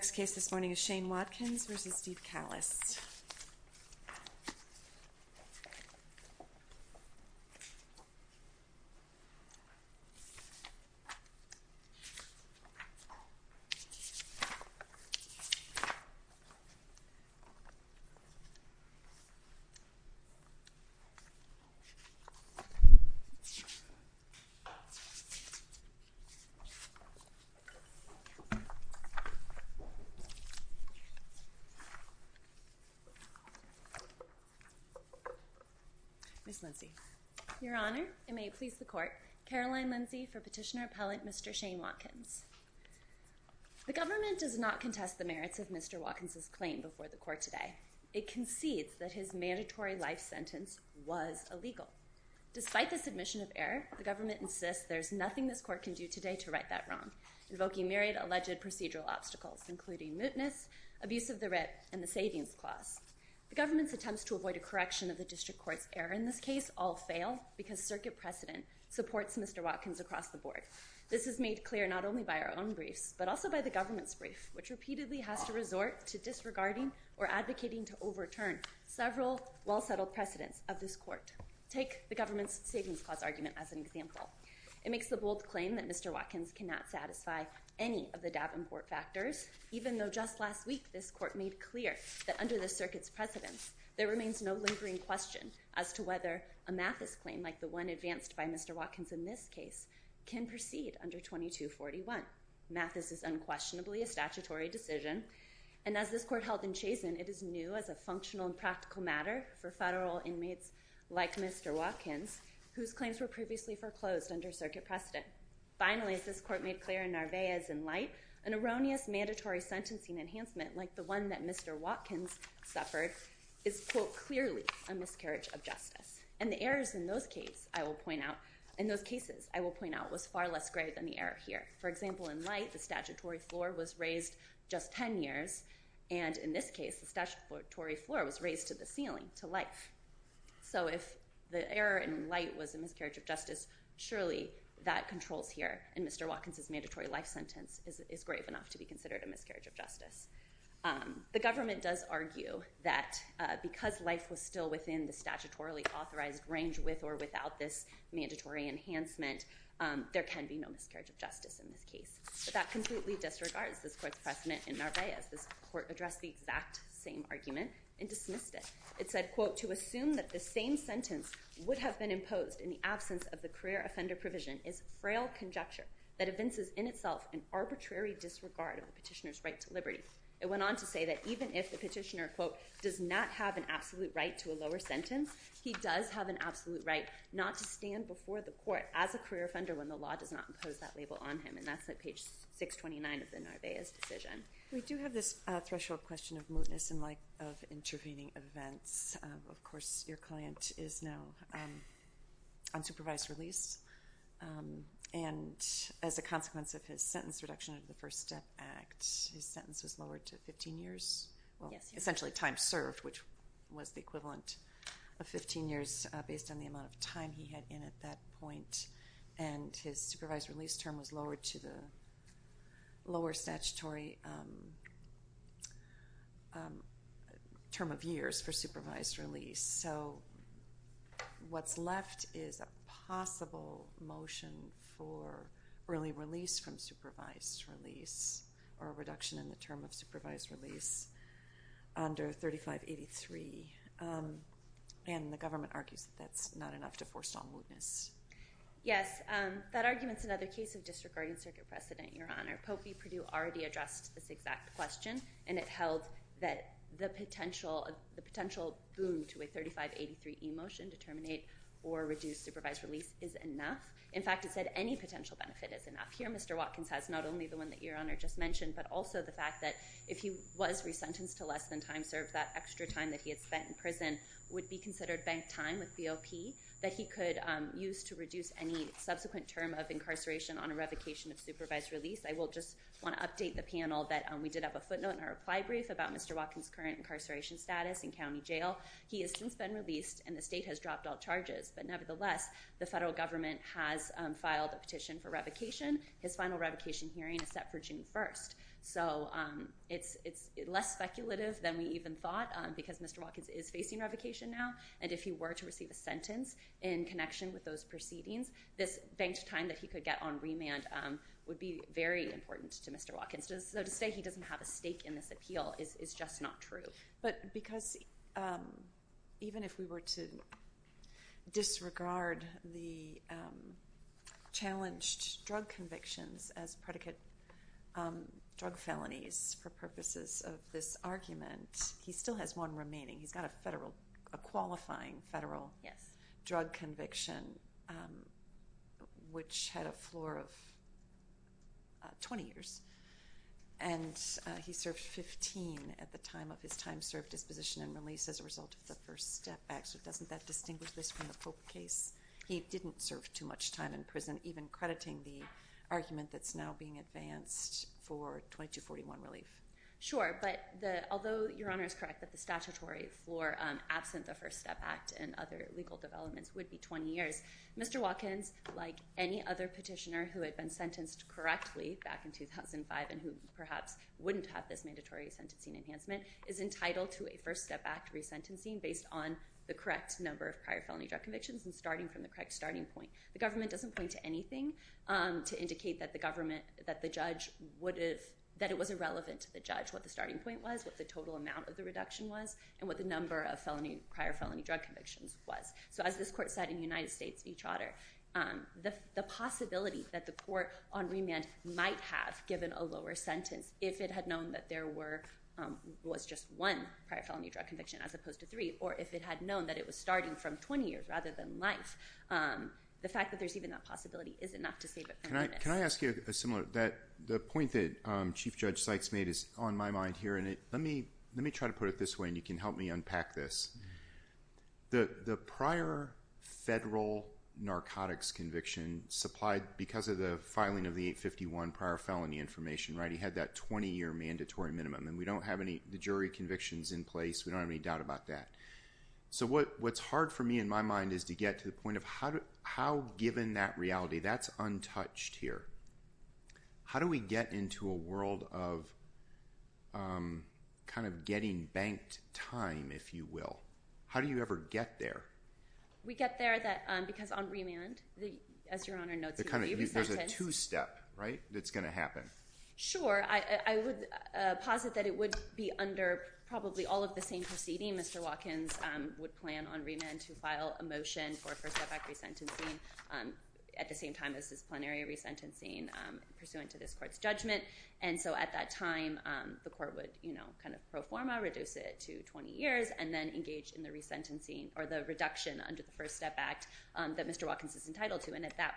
The next case this morning is Shane Watkins v. Steve Kallis. Ms. Lindsey. Your Honor, it may please the Court, Caroline Lindsey for Petitioner-Appellant Mr. Shane Watkins. The government does not contest the merits of Mr. Watkins' claim before the Court today. It concedes that his mandatory life sentence was illegal. Despite the submission of error, the government insists there's nothing this Court can do today to right that wrong, invoking myriad alleged procedural obstacles including mootness, abuse of the writ, and the Savings Clause. The government's attempts to avoid a correction of the District Court's error in this case all fail because Circuit precedent supports Mr. Watkins across the Board. This is made clear not only by our own briefs, but also by the government's brief, which repeatedly has to resort to disregarding or advocating to overturn several well-settled precedents of this Court. Take the government's Savings Clause argument as an example. It cannot satisfy any of the Davenport factors, even though just last week this Court made clear that under the Circuit's precedents, there remains no lingering question as to whether a Mathis claim, like the one advanced by Mr. Watkins in this case, can proceed under 2241. Mathis is unquestionably a statutory decision, and as this Court held in Chazen, it is new as a functional and practical matter for federal inmates like Mr. Watkins, whose Court made clear in Narvaez and Light, an erroneous mandatory sentencing enhancement like the one that Mr. Watkins suffered is, quote, clearly a miscarriage of justice. And the errors in those cases, I will point out, was far less grave than the error here. For example, in Light, the statutory floor was raised just 10 years, and in this case, the statutory floor was raised to the ceiling, to life. So if the error in Light was a miscarriage of justice, surely that controls here, and Mr. Watkins' mandatory life sentence is grave enough to be considered a miscarriage of justice. The government does argue that because life was still within the statutorily authorized range with or without this mandatory enhancement, there can be no miscarriage of justice in this case. But that completely disregards this Court's precedent in Narvaez. This Court addressed the exact same argument and dismissed it. It said, quote, to assume that the same sentence would have been imposed in the absence of the career offender provision is a frail conjecture that evinces in itself an arbitrary disregard of the petitioner's right to liberty. It went on to say that even if the petitioner, quote, does not have an absolute right to a lower sentence, he does have an absolute right not to stand before the Court as a career offender when the law does not impose that label on him. And that's at page 629 of the Narvaez decision. We do have this threshold question of mootness in light of intervening events. Of course, your client is now on supervised release. And as a consequence of his sentence reduction of the First Step Act, his sentence was lowered to 15 years. Well, essentially time served, which was the equivalent of 15 years based on the amount of time he had in at that point. And his supervised release term was lowered to the lower statutory term of years for supervised release. So what's left is a possible motion for early release from supervised release or a reduction in the term of supervised release under 3583. And the government argues that that's not enough to force on mootness. Yes. That argument's another case of disregarding circuit precedent, Your Honor. Pope v. Perdue already addressed this exact question. And it held that the potential boom to a 3583 e-motion to terminate or reduce supervised release is enough. In fact, it said any potential benefit is enough. Here, Mr. Watkins has not only the one that Your Honor just mentioned, but also the fact that if he was resentenced to less than time served, that extra time that he had spent in prison would be considered banked time with BOP that he could use to reduce any subsequent term of incarceration on a revocation of supervised release. I will just want to update the panel that we did have a footnote in our reply brief about Mr. Watkins' current incarceration status in county jail. He has since been released and the state has dropped all charges. But nevertheless, the federal government has filed a petition for revocation. His final revocation hearing is set for June 1st. So it's less speculative than we even thought because Mr. Watkins is facing revocation now. And if he were to receive a sentence in connection with those proceedings, this banked time that he could get on remand would be very important to Mr. Watkins. So to say he doesn't have a stake in this appeal is just not true. But because even if we were to disregard the challenged drug convictions as predicate drug felonies for purposes of this argument, he still has one remaining. He's got a federal, a qualifying federal drug conviction, which had a floor of 20 years. And he served 15 at the time of his time served disposition and release as a result of the first step back. So doesn't that distinguish this from the Pope case? He didn't serve too much time in prison, even crediting the argument that's now being advanced for 2241 relief. Sure. But although Your Honor is correct that the statutory floor absent the First Step Act and other legal developments would be 20 years, Mr. Watkins, like any other petitioner who had been sentenced correctly back in 2005 and who perhaps wouldn't have this mandatory sentencing enhancement, is entitled to a First Step Act resentencing based on the correct number of prior felony drug convictions and starting from the correct starting point. The government doesn't point to anything to indicate that the government, that the judge would have, that it was irrelevant to the judge what the starting point was, what the total amount of the reduction was, and what the number of felony, prior felony drug convictions was. So as this court said in the United States v. Trotter, the possibility that the court on remand might have given a lower sentence if it had known that there were, was just one prior felony drug conviction as opposed to three, or if it had known that it was starting from 20 years rather than life. The fact that there's even that possibility is enough to say that there is. Can I ask you a similar, that, the point that Chief Judge Sykes made is on my mind here and it, let me, let me try to put it this way and you can help me unpack this. The, the prior federal narcotics conviction supplied, because of the filing of the 851 prior felony information, right, he had that 20 year mandatory minimum and we don't have any, the jury convictions in place, we don't have any doubt about that. So what, what's hard for me in my mind is to get to the point of how, how given that reality, that's untouched here, how do we get into a world of kind of getting banked time, if you will? How do you ever get there? We get there that, because on remand, the, as Your Honor notes, there's a two-step, right, that's gonna happen. Sure. I, I would posit that it would be under probably all of the same proceeding. Mr. Watkins would plan on remand to file a motion for first-step act resentencing at the same time as disciplinary resentencing pursuant to this court's judgment. And so at that time, the court would, you know, kind of pro forma reduce it to 20 years and then engage in the resentencing or the reduction under the first-step act that Mr. Watkins is entitled to. And at that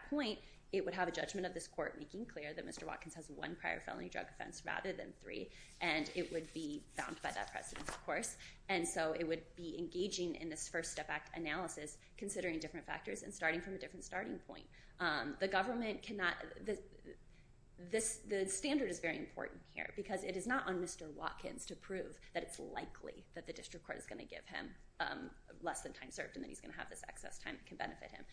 rather than three, and it would be bound by that precedent, of course. And so it would be engaging in this first-step act analysis, considering different factors and starting from a different starting point. The government cannot, this, the standard is very important here, because it is not on Mr. Watkins to prove that it's likely that the district court is gonna give him less than time served and that he's gonna have this excess time that can benefit him.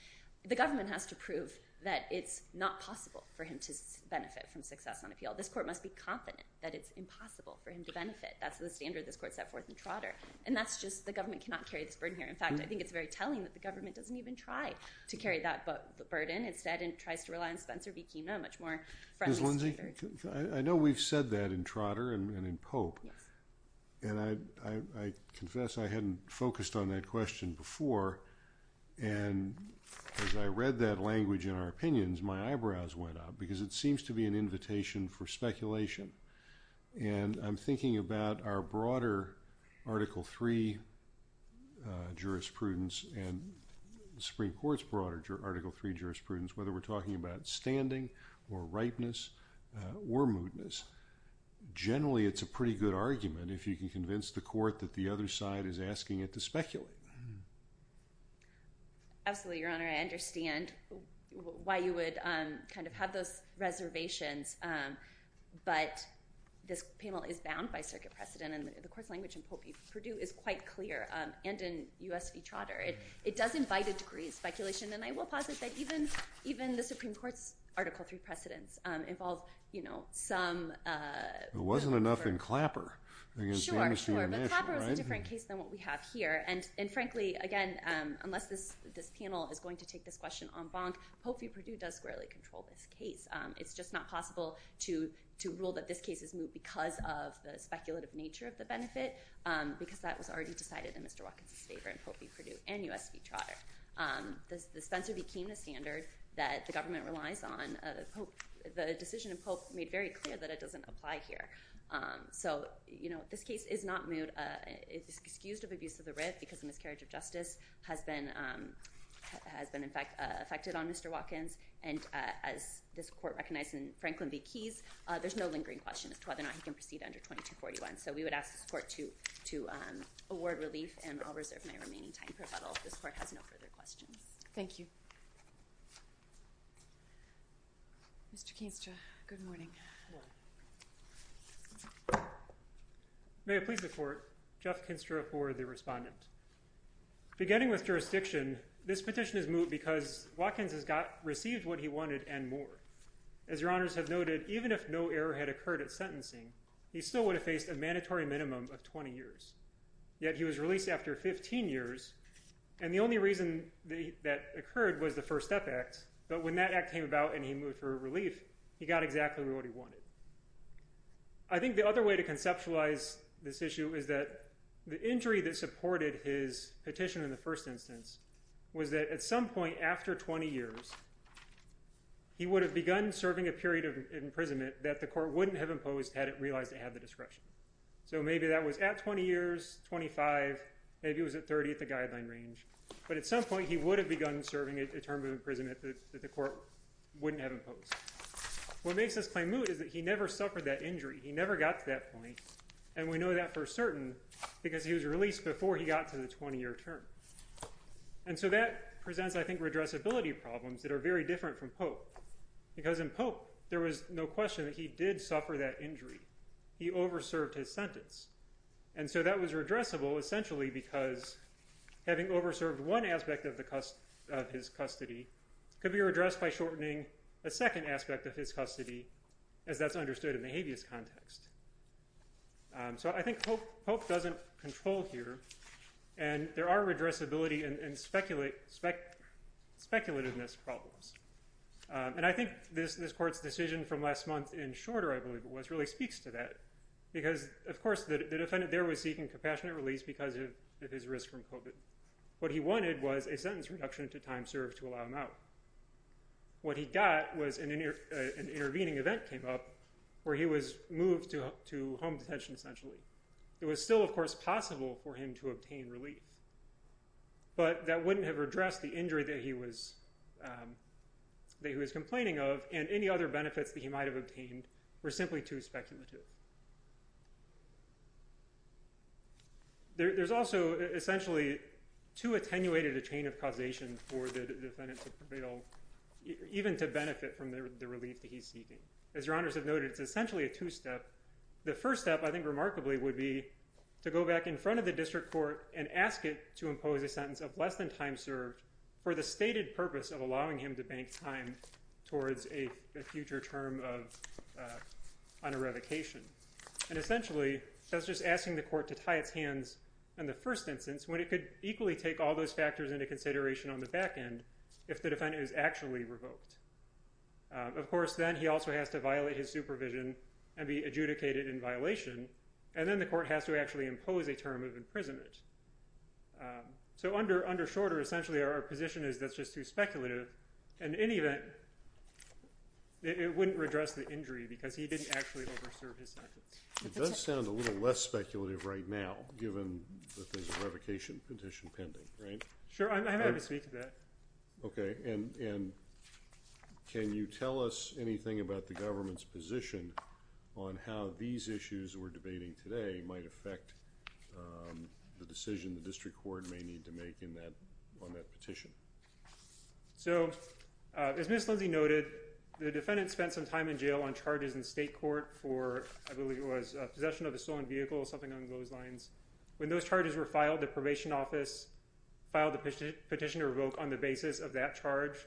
The government has to prove that it's not possible for him to benefit from success on appeal. This court must be confident that it's impossible for him to benefit. That's the standard this court set forth in Trotter. And that's just, the government cannot carry this burden here. In fact, I think it's very telling that the government doesn't even try to carry that burden. Instead, it tries to rely on Spencer B. Kima, a much more friendly standard. Ms. Lindsey, I know we've said that in Trotter and in Pope. Yes. And I confess I hadn't focused on that question before. And as I read that language in our invitation for speculation, and I'm thinking about our broader Article 3 jurisprudence and the Supreme Court's broader Article 3 jurisprudence, whether we're talking about standing or ripeness or mootness, generally it's a pretty good argument if you can convince the court that the other side is asking it to speculate. Absolutely, Your Honor. I understand why you would kind of have those reservations. But this panel is bound by circuit precedent and the court's language in Popey-Purdue is quite clear, and in U.S. v. Trotter. It does invite a degree of speculation, and I will posit that even the Supreme Court's Article 3 precedents involve some... It wasn't enough in Clapper. Sure, sure. But Clapper is a different case than what we have here. And frankly, again, unless this panel is going to take this question en banc, Popey-Purdue does squarely control this case. It's just not possible to rule that this case is moot because of the speculative nature of the benefit, because that was already decided in Mr. Watkins' favor in Popey-Purdue and U.S. v. Trotter. The Spencer became the standard that the government relies on. The decision in Pope made very clear that it doesn't apply here. So this case is not moot. It's excused of abuse of authority and miscarriage of justice has been affected on Mr. Watkins, and as this court recognized in Franklin v. Keyes, there's no lingering question as to whether or not he can proceed under 2241. So we would ask this court to award relief, and I'll reserve my remaining time for rebuttal. This court has no further questions. Thank you. Mr. Court, Jeff Kinstra for the respondent. Beginning with jurisdiction, this petition is moot because Watkins has received what he wanted and more. As your honors have noted, even if no error had occurred at sentencing, he still would have faced a mandatory minimum of 20 years. Yet he was released after 15 years, and the only reason that occurred was the First Step Act, but when that act came about and he moved for relief, he got exactly what he wanted. I think the other way to conceptualize this issue is that the injury that supported his petition in the first instance was that at some point after 20 years, he would have begun serving a period of imprisonment that the court wouldn't have imposed had it realized it had the discretion. So maybe that was at 20 years, 25, maybe it was at 30 at the guideline range, but at some point he would have begun serving a term of imprisonment that the court wouldn't have imposed. What makes this claim moot is that he never suffered that injury. He never got to that point, and we know that for certain because he was released before he got to the 20-year term. And so that presents, I think, redressability problems that are very different from Pope. Because in Pope, there was no question that he did suffer that injury. He over-served his sentence. And so that was redressable essentially because having over-served one aspect of his custody could be redressed by shortening a second aspect of his custody, as that's understood in the habeas context. So I think Pope doesn't control here, and there are redressability and speculativeness problems. And I think this court's decision from last month in Shorter, I believe it was, really speaks to that. Because, of course, the defendant there was seeking compassionate release because of his risk from COVID. What he wanted was a sentence reduction to time served to allow him out. What he got was an intervening event came up where he was moved to home detention essentially. It was still, of course, possible for him to obtain relief. But that wouldn't have redressed the injury that he was complaining of and any other benefits that he might have obtained were simply too speculative. There's also essentially too attenuated a chain of causation for the defendant to prevail, even to benefit from the relief that he's seeking. As your honors have noted, it's essentially a two-step. The first step I think remarkably would be to go back in front of the district court and ask it to impose a sentence of less than time served for the stated purpose of allowing him to bank time towards a future term of on a revocation. Essentially, that's just asking the court to tie its hands in the first instance when it could equally take all those factors into consideration on the back end if the defendant is actually revoked. Of course, then he also has to violate his supervision and be adjudicated in violation. Then the court has to actually impose a term of imprisonment. Under Shorter, essentially our position is that's just too speculative. In any event, it wouldn't redress the injury because he didn't actually over-serve his sentence. It does sound a little less speculative right now given that there's a revocation petition pending. Sure, I'm happy to speak to that. Can you tell us anything about the government's position on how these issues we're debating today might affect the decision the district court may need to make on that petition? As Ms. Lindsey noted, the defendant spent some time in jail on charges in state court for I believe it was possession of a stolen vehicle or something along those lines. When those charges were filed, the probation office filed the petition to revoke on the basis of that charge.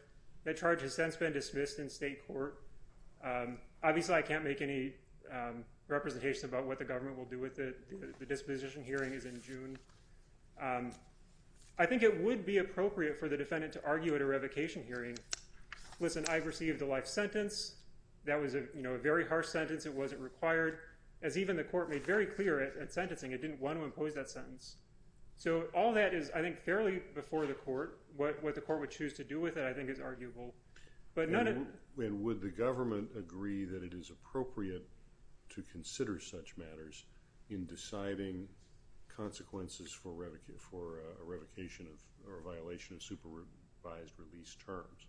That charge has since been dismissed in state court. Obviously, I can't make any representation about what the government will do with it. The disposition hearing is in June. I think it would be appropriate for the defendant to argue at a revocation hearing. Listen, I've received a life sentence. That was a very harsh sentence. It wasn't required. As even the court made very clear at sentencing, it didn't want to impose that sentence. All that is, I think, fairly before the court. What the court would choose to do with it, I think, is arguable. Would the government agree that it is appropriate to consider such matters in deciding consequences for revocation or violation of supervised release terms?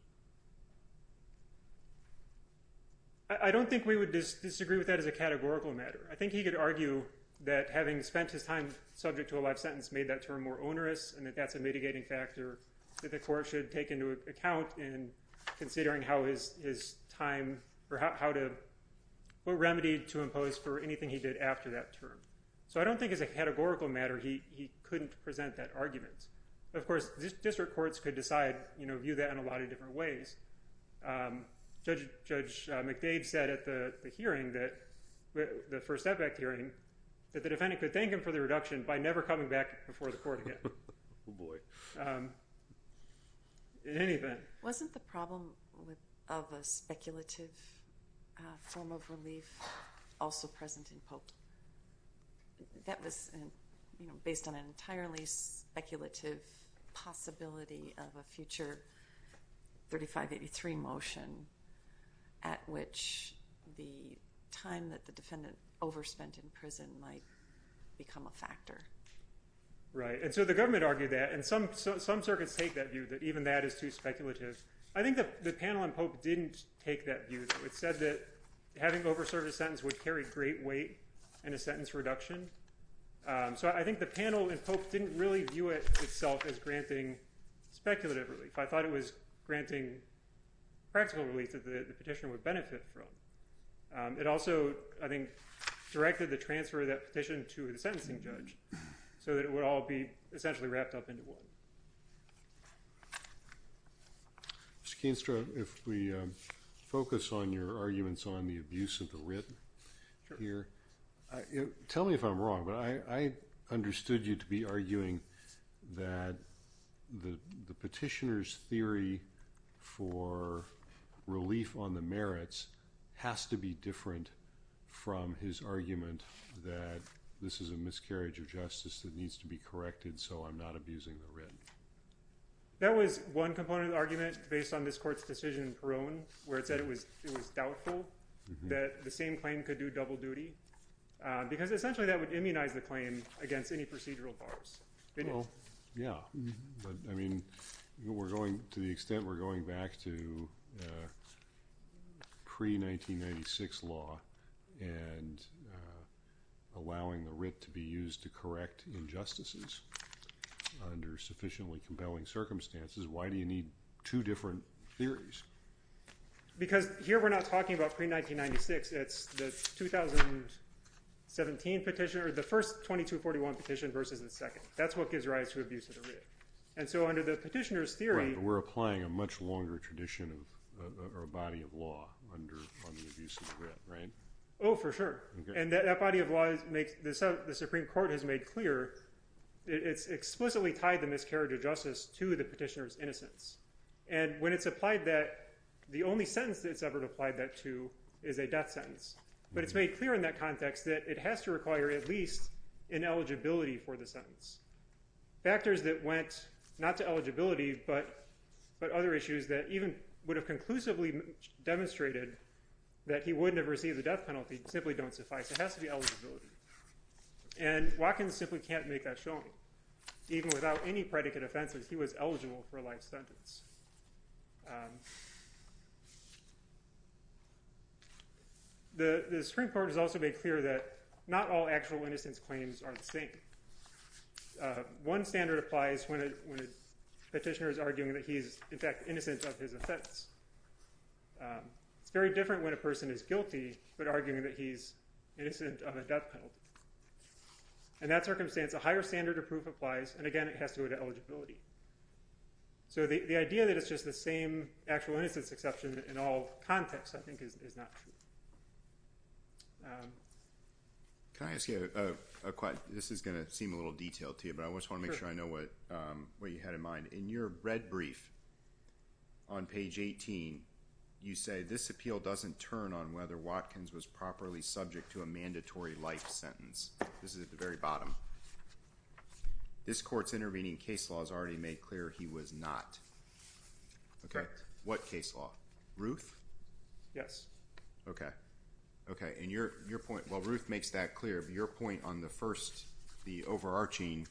I don't think we would disagree with that as a categorical matter. I think he could argue that having spent his time subject to a life sentence made that term more onerous and that that's a mitigating factor that the court should take into account in considering how his time or what remedy to impose for anything he did after that term. I don't think as a categorical matter he couldn't present that argument. Of course, district courts could decide, view that in a lot of different ways. Judge McDade said at the hearing, the first effect hearing, that the defendant could thank him for the reduction by never coming back before the court again. Wasn't the problem of a speculative form of relief also present in Pope? That was based on an entirely speculative possibility of a future 3583 motion at which the time that the defendant overspent in prison might become a factor. The government argued that and some circuits take that view that even that is too speculative. I think the panel in Pope didn't take that view. It said that having overserved a sentence would carry great weight in a sentence reduction. I think the panel in Pope didn't really view it itself as granting speculative relief. I thought it was granting practical relief that the petitioner would benefit from. It also, I think, directed the transfer of that petition to the sentencing judge so that it would all be essentially wrapped up into one. Mr. Keenstra, if we focus on your arguments on the abuse of the writ here. Tell me if I'm wrong, but I understood you to be arguing that the petitioner's theory for relief on the merits has to be different from his argument that this is a miscarriage of justice that needs to be corrected so I'm not abusing the writ. That was one component of the argument based on this court's decision in Peron where it said it was doubtful that the same claim could do double duty because essentially that would immunize the claim against any procedural bars. Yeah, but I mean to the extent we're going back to pre-1996 law and allowing the writ to be used to correct injustices under sufficiently compelling circumstances, why do you need two different theories? Because here we're not talking about pre-1996. It's the first 2241 petition versus the second. That's what gives rise to abuse of the writ. And so under the petitioner's theory... We're applying a much longer tradition or body of law on the abuse of the writ, right? Oh, for sure. And that body of law, the Supreme Court has made clear, it's explicitly tied the miscarriage of justice to the petitioner's innocence. And when it's applied that, the only sentence it's ever applied that to is a death sentence. But it's made clear in that context that it has to require at least an eligibility for the sentence. Factors that went not to eligibility but other issues that even would have conclusively demonstrated that he wouldn't have received the death penalty simply don't suffice. It has to be eligibility. And Watkins simply can't make that showing. Even without any predicate offenses, he was eligible for a life sentence. The Supreme Court has also made clear that not all actual innocence claims are the same. One standard applies when a petitioner is arguing that he's in fact innocent of his offense. It's very different when a person is guilty but arguing that he's innocent of a death penalty. In that circumstance, a higher standard of proof applies. And again, it has to go to eligibility. So the idea that it's just the same actual innocence exception in all contexts I think is not true. Can I ask you a question? This is going to seem a little detailed to you, but I just want to make sure I know what you had in mind. In your red brief on page 18, you say, this appeal doesn't turn on whether Watkins was properly subject to a mandatory life sentence. This is at the very bottom. This court's intervening case law has already made clear he was not. Correct. What case law? Ruth? Yes. Okay. Okay. And your point, well, Ruth makes that clear. But your point on the first, the overarching,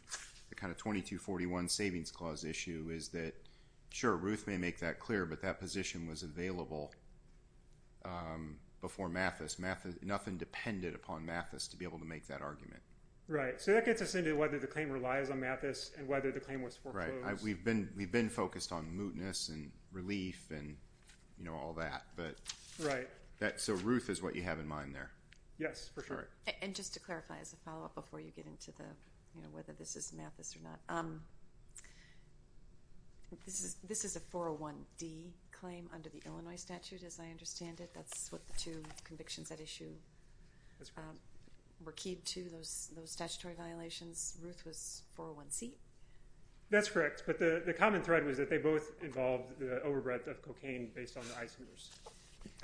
the kind of 2241 Savings Clause issue is that, sure, Ruth may make that clear, but that position was available before Mathis. Nothing depended upon Mathis to be able to make that argument. Right. So that gets us into whether the claim relies on Mathis and whether the claim was foreclosed. Right. We've been focused on mootness and relief and all that. Right. So Ruth is what you have in mind there. Yes, for sure. And just to clarify as a follow-up before you get into whether this is Mathis or not, this is a 401D claim under the Illinois statute, as I understand it. That's what the two convictions at issue were keyed to, those statutory violations. Ruth was 401C? That's correct. But the common thread was that they both involved the overbred of cocaine based on the ICE news.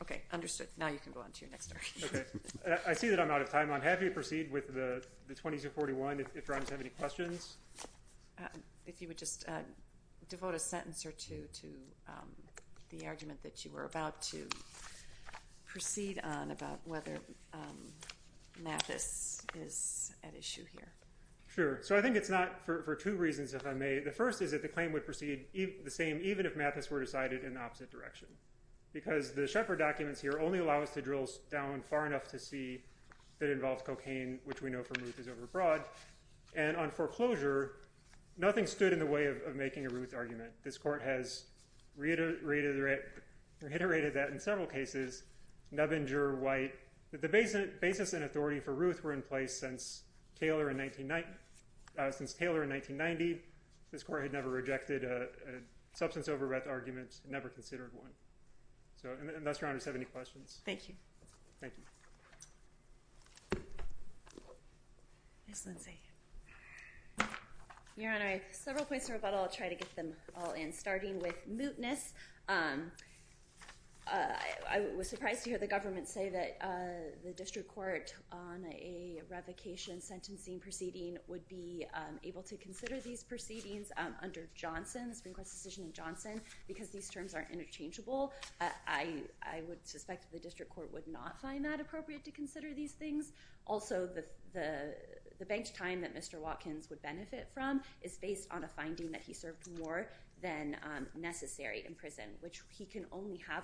Okay. Understood. Now you can go on to your next argument. Okay. I see that I'm out of time. I'm happy to proceed with the 2241 if you guys have any questions. If you would just devote a sentence or two to the argument that you were about to proceed on about whether Mathis is at issue here. Sure. So I think it's not for two reasons, if I may. The first is that the claim would proceed the same even if Mathis were decided in the opposite direction because the Shepard documents here only allow us to drill down far enough to see that it involves cocaine, which we know from Ruth is overbroad. And on foreclosure, nothing stood in the way of making a Ruth argument. This court has reiterated that in several cases, Nubbinger, White, that the basis and authority for Ruth were in place since Taylor in 1990. This court had never rejected a substance overrath argument, never considered one. So unless your honors have any questions. Thank you. Thank you. Ms. Lindsay. Your Honor, several points of rebuttal. I'll try to get them all in. Starting with mootness, I was surprised to hear the government say that the district court on a revocation sentencing proceeding would be able to consider these proceedings under Johnson, the Supreme Court's decision in Johnson, because these terms are interchangeable. I would suspect the district court would not find that appropriate to consider these things. Also, the banked time that Mr. Watkins would benefit from is based on a finding that he served more than necessary in prison, which he can only have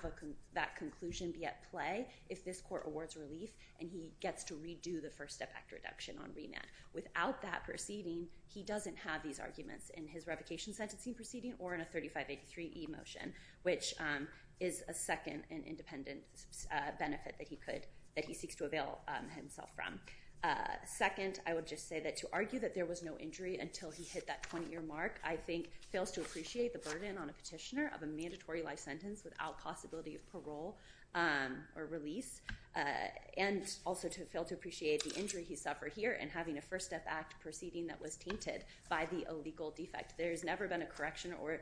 that conclusion be at play if this court awards relief and he gets to redo the First Step Act reduction on remand. Without that proceeding, he doesn't have these arguments in his revocation sentencing proceeding or in a 3583E motion, which is a second and independent benefit that he seeks to avail himself from. Second, I would just say that to argue that there was no injury until he hit that 20-year mark, I think fails to appreciate the burden on a petitioner of a mandatory life sentence without possibility of parole or release, and also to fail to appreciate the injury he suffered here and having a First Step Act proceeding that was tainted by the illegal defect. There's never been a correction or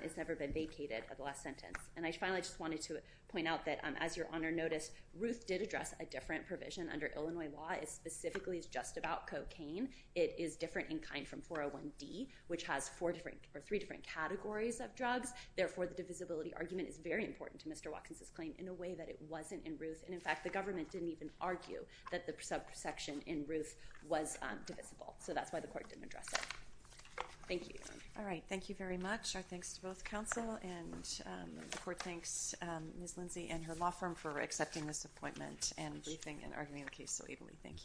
it's never been vacated of the last sentence. And I finally just wanted to point out that, as Your Honor noticed, Ruth did address a different provision under Illinois law. It specifically is just about cocaine. It is different in kind from 401D, which has three different categories of drugs. Therefore, the divisibility argument is very important to Mr. Watkins' claim in a way that it wasn't in Ruth. And in fact, the government didn't even argue that the subsection in Ruth was divisible. So that's why the court didn't address it. Thank you. All right. Thank you very much. Our thanks to both counsel and the court thanks Ms. Lindsay and her law firm for accepting this appointment and briefing and arguing the case so evenly. Thank you.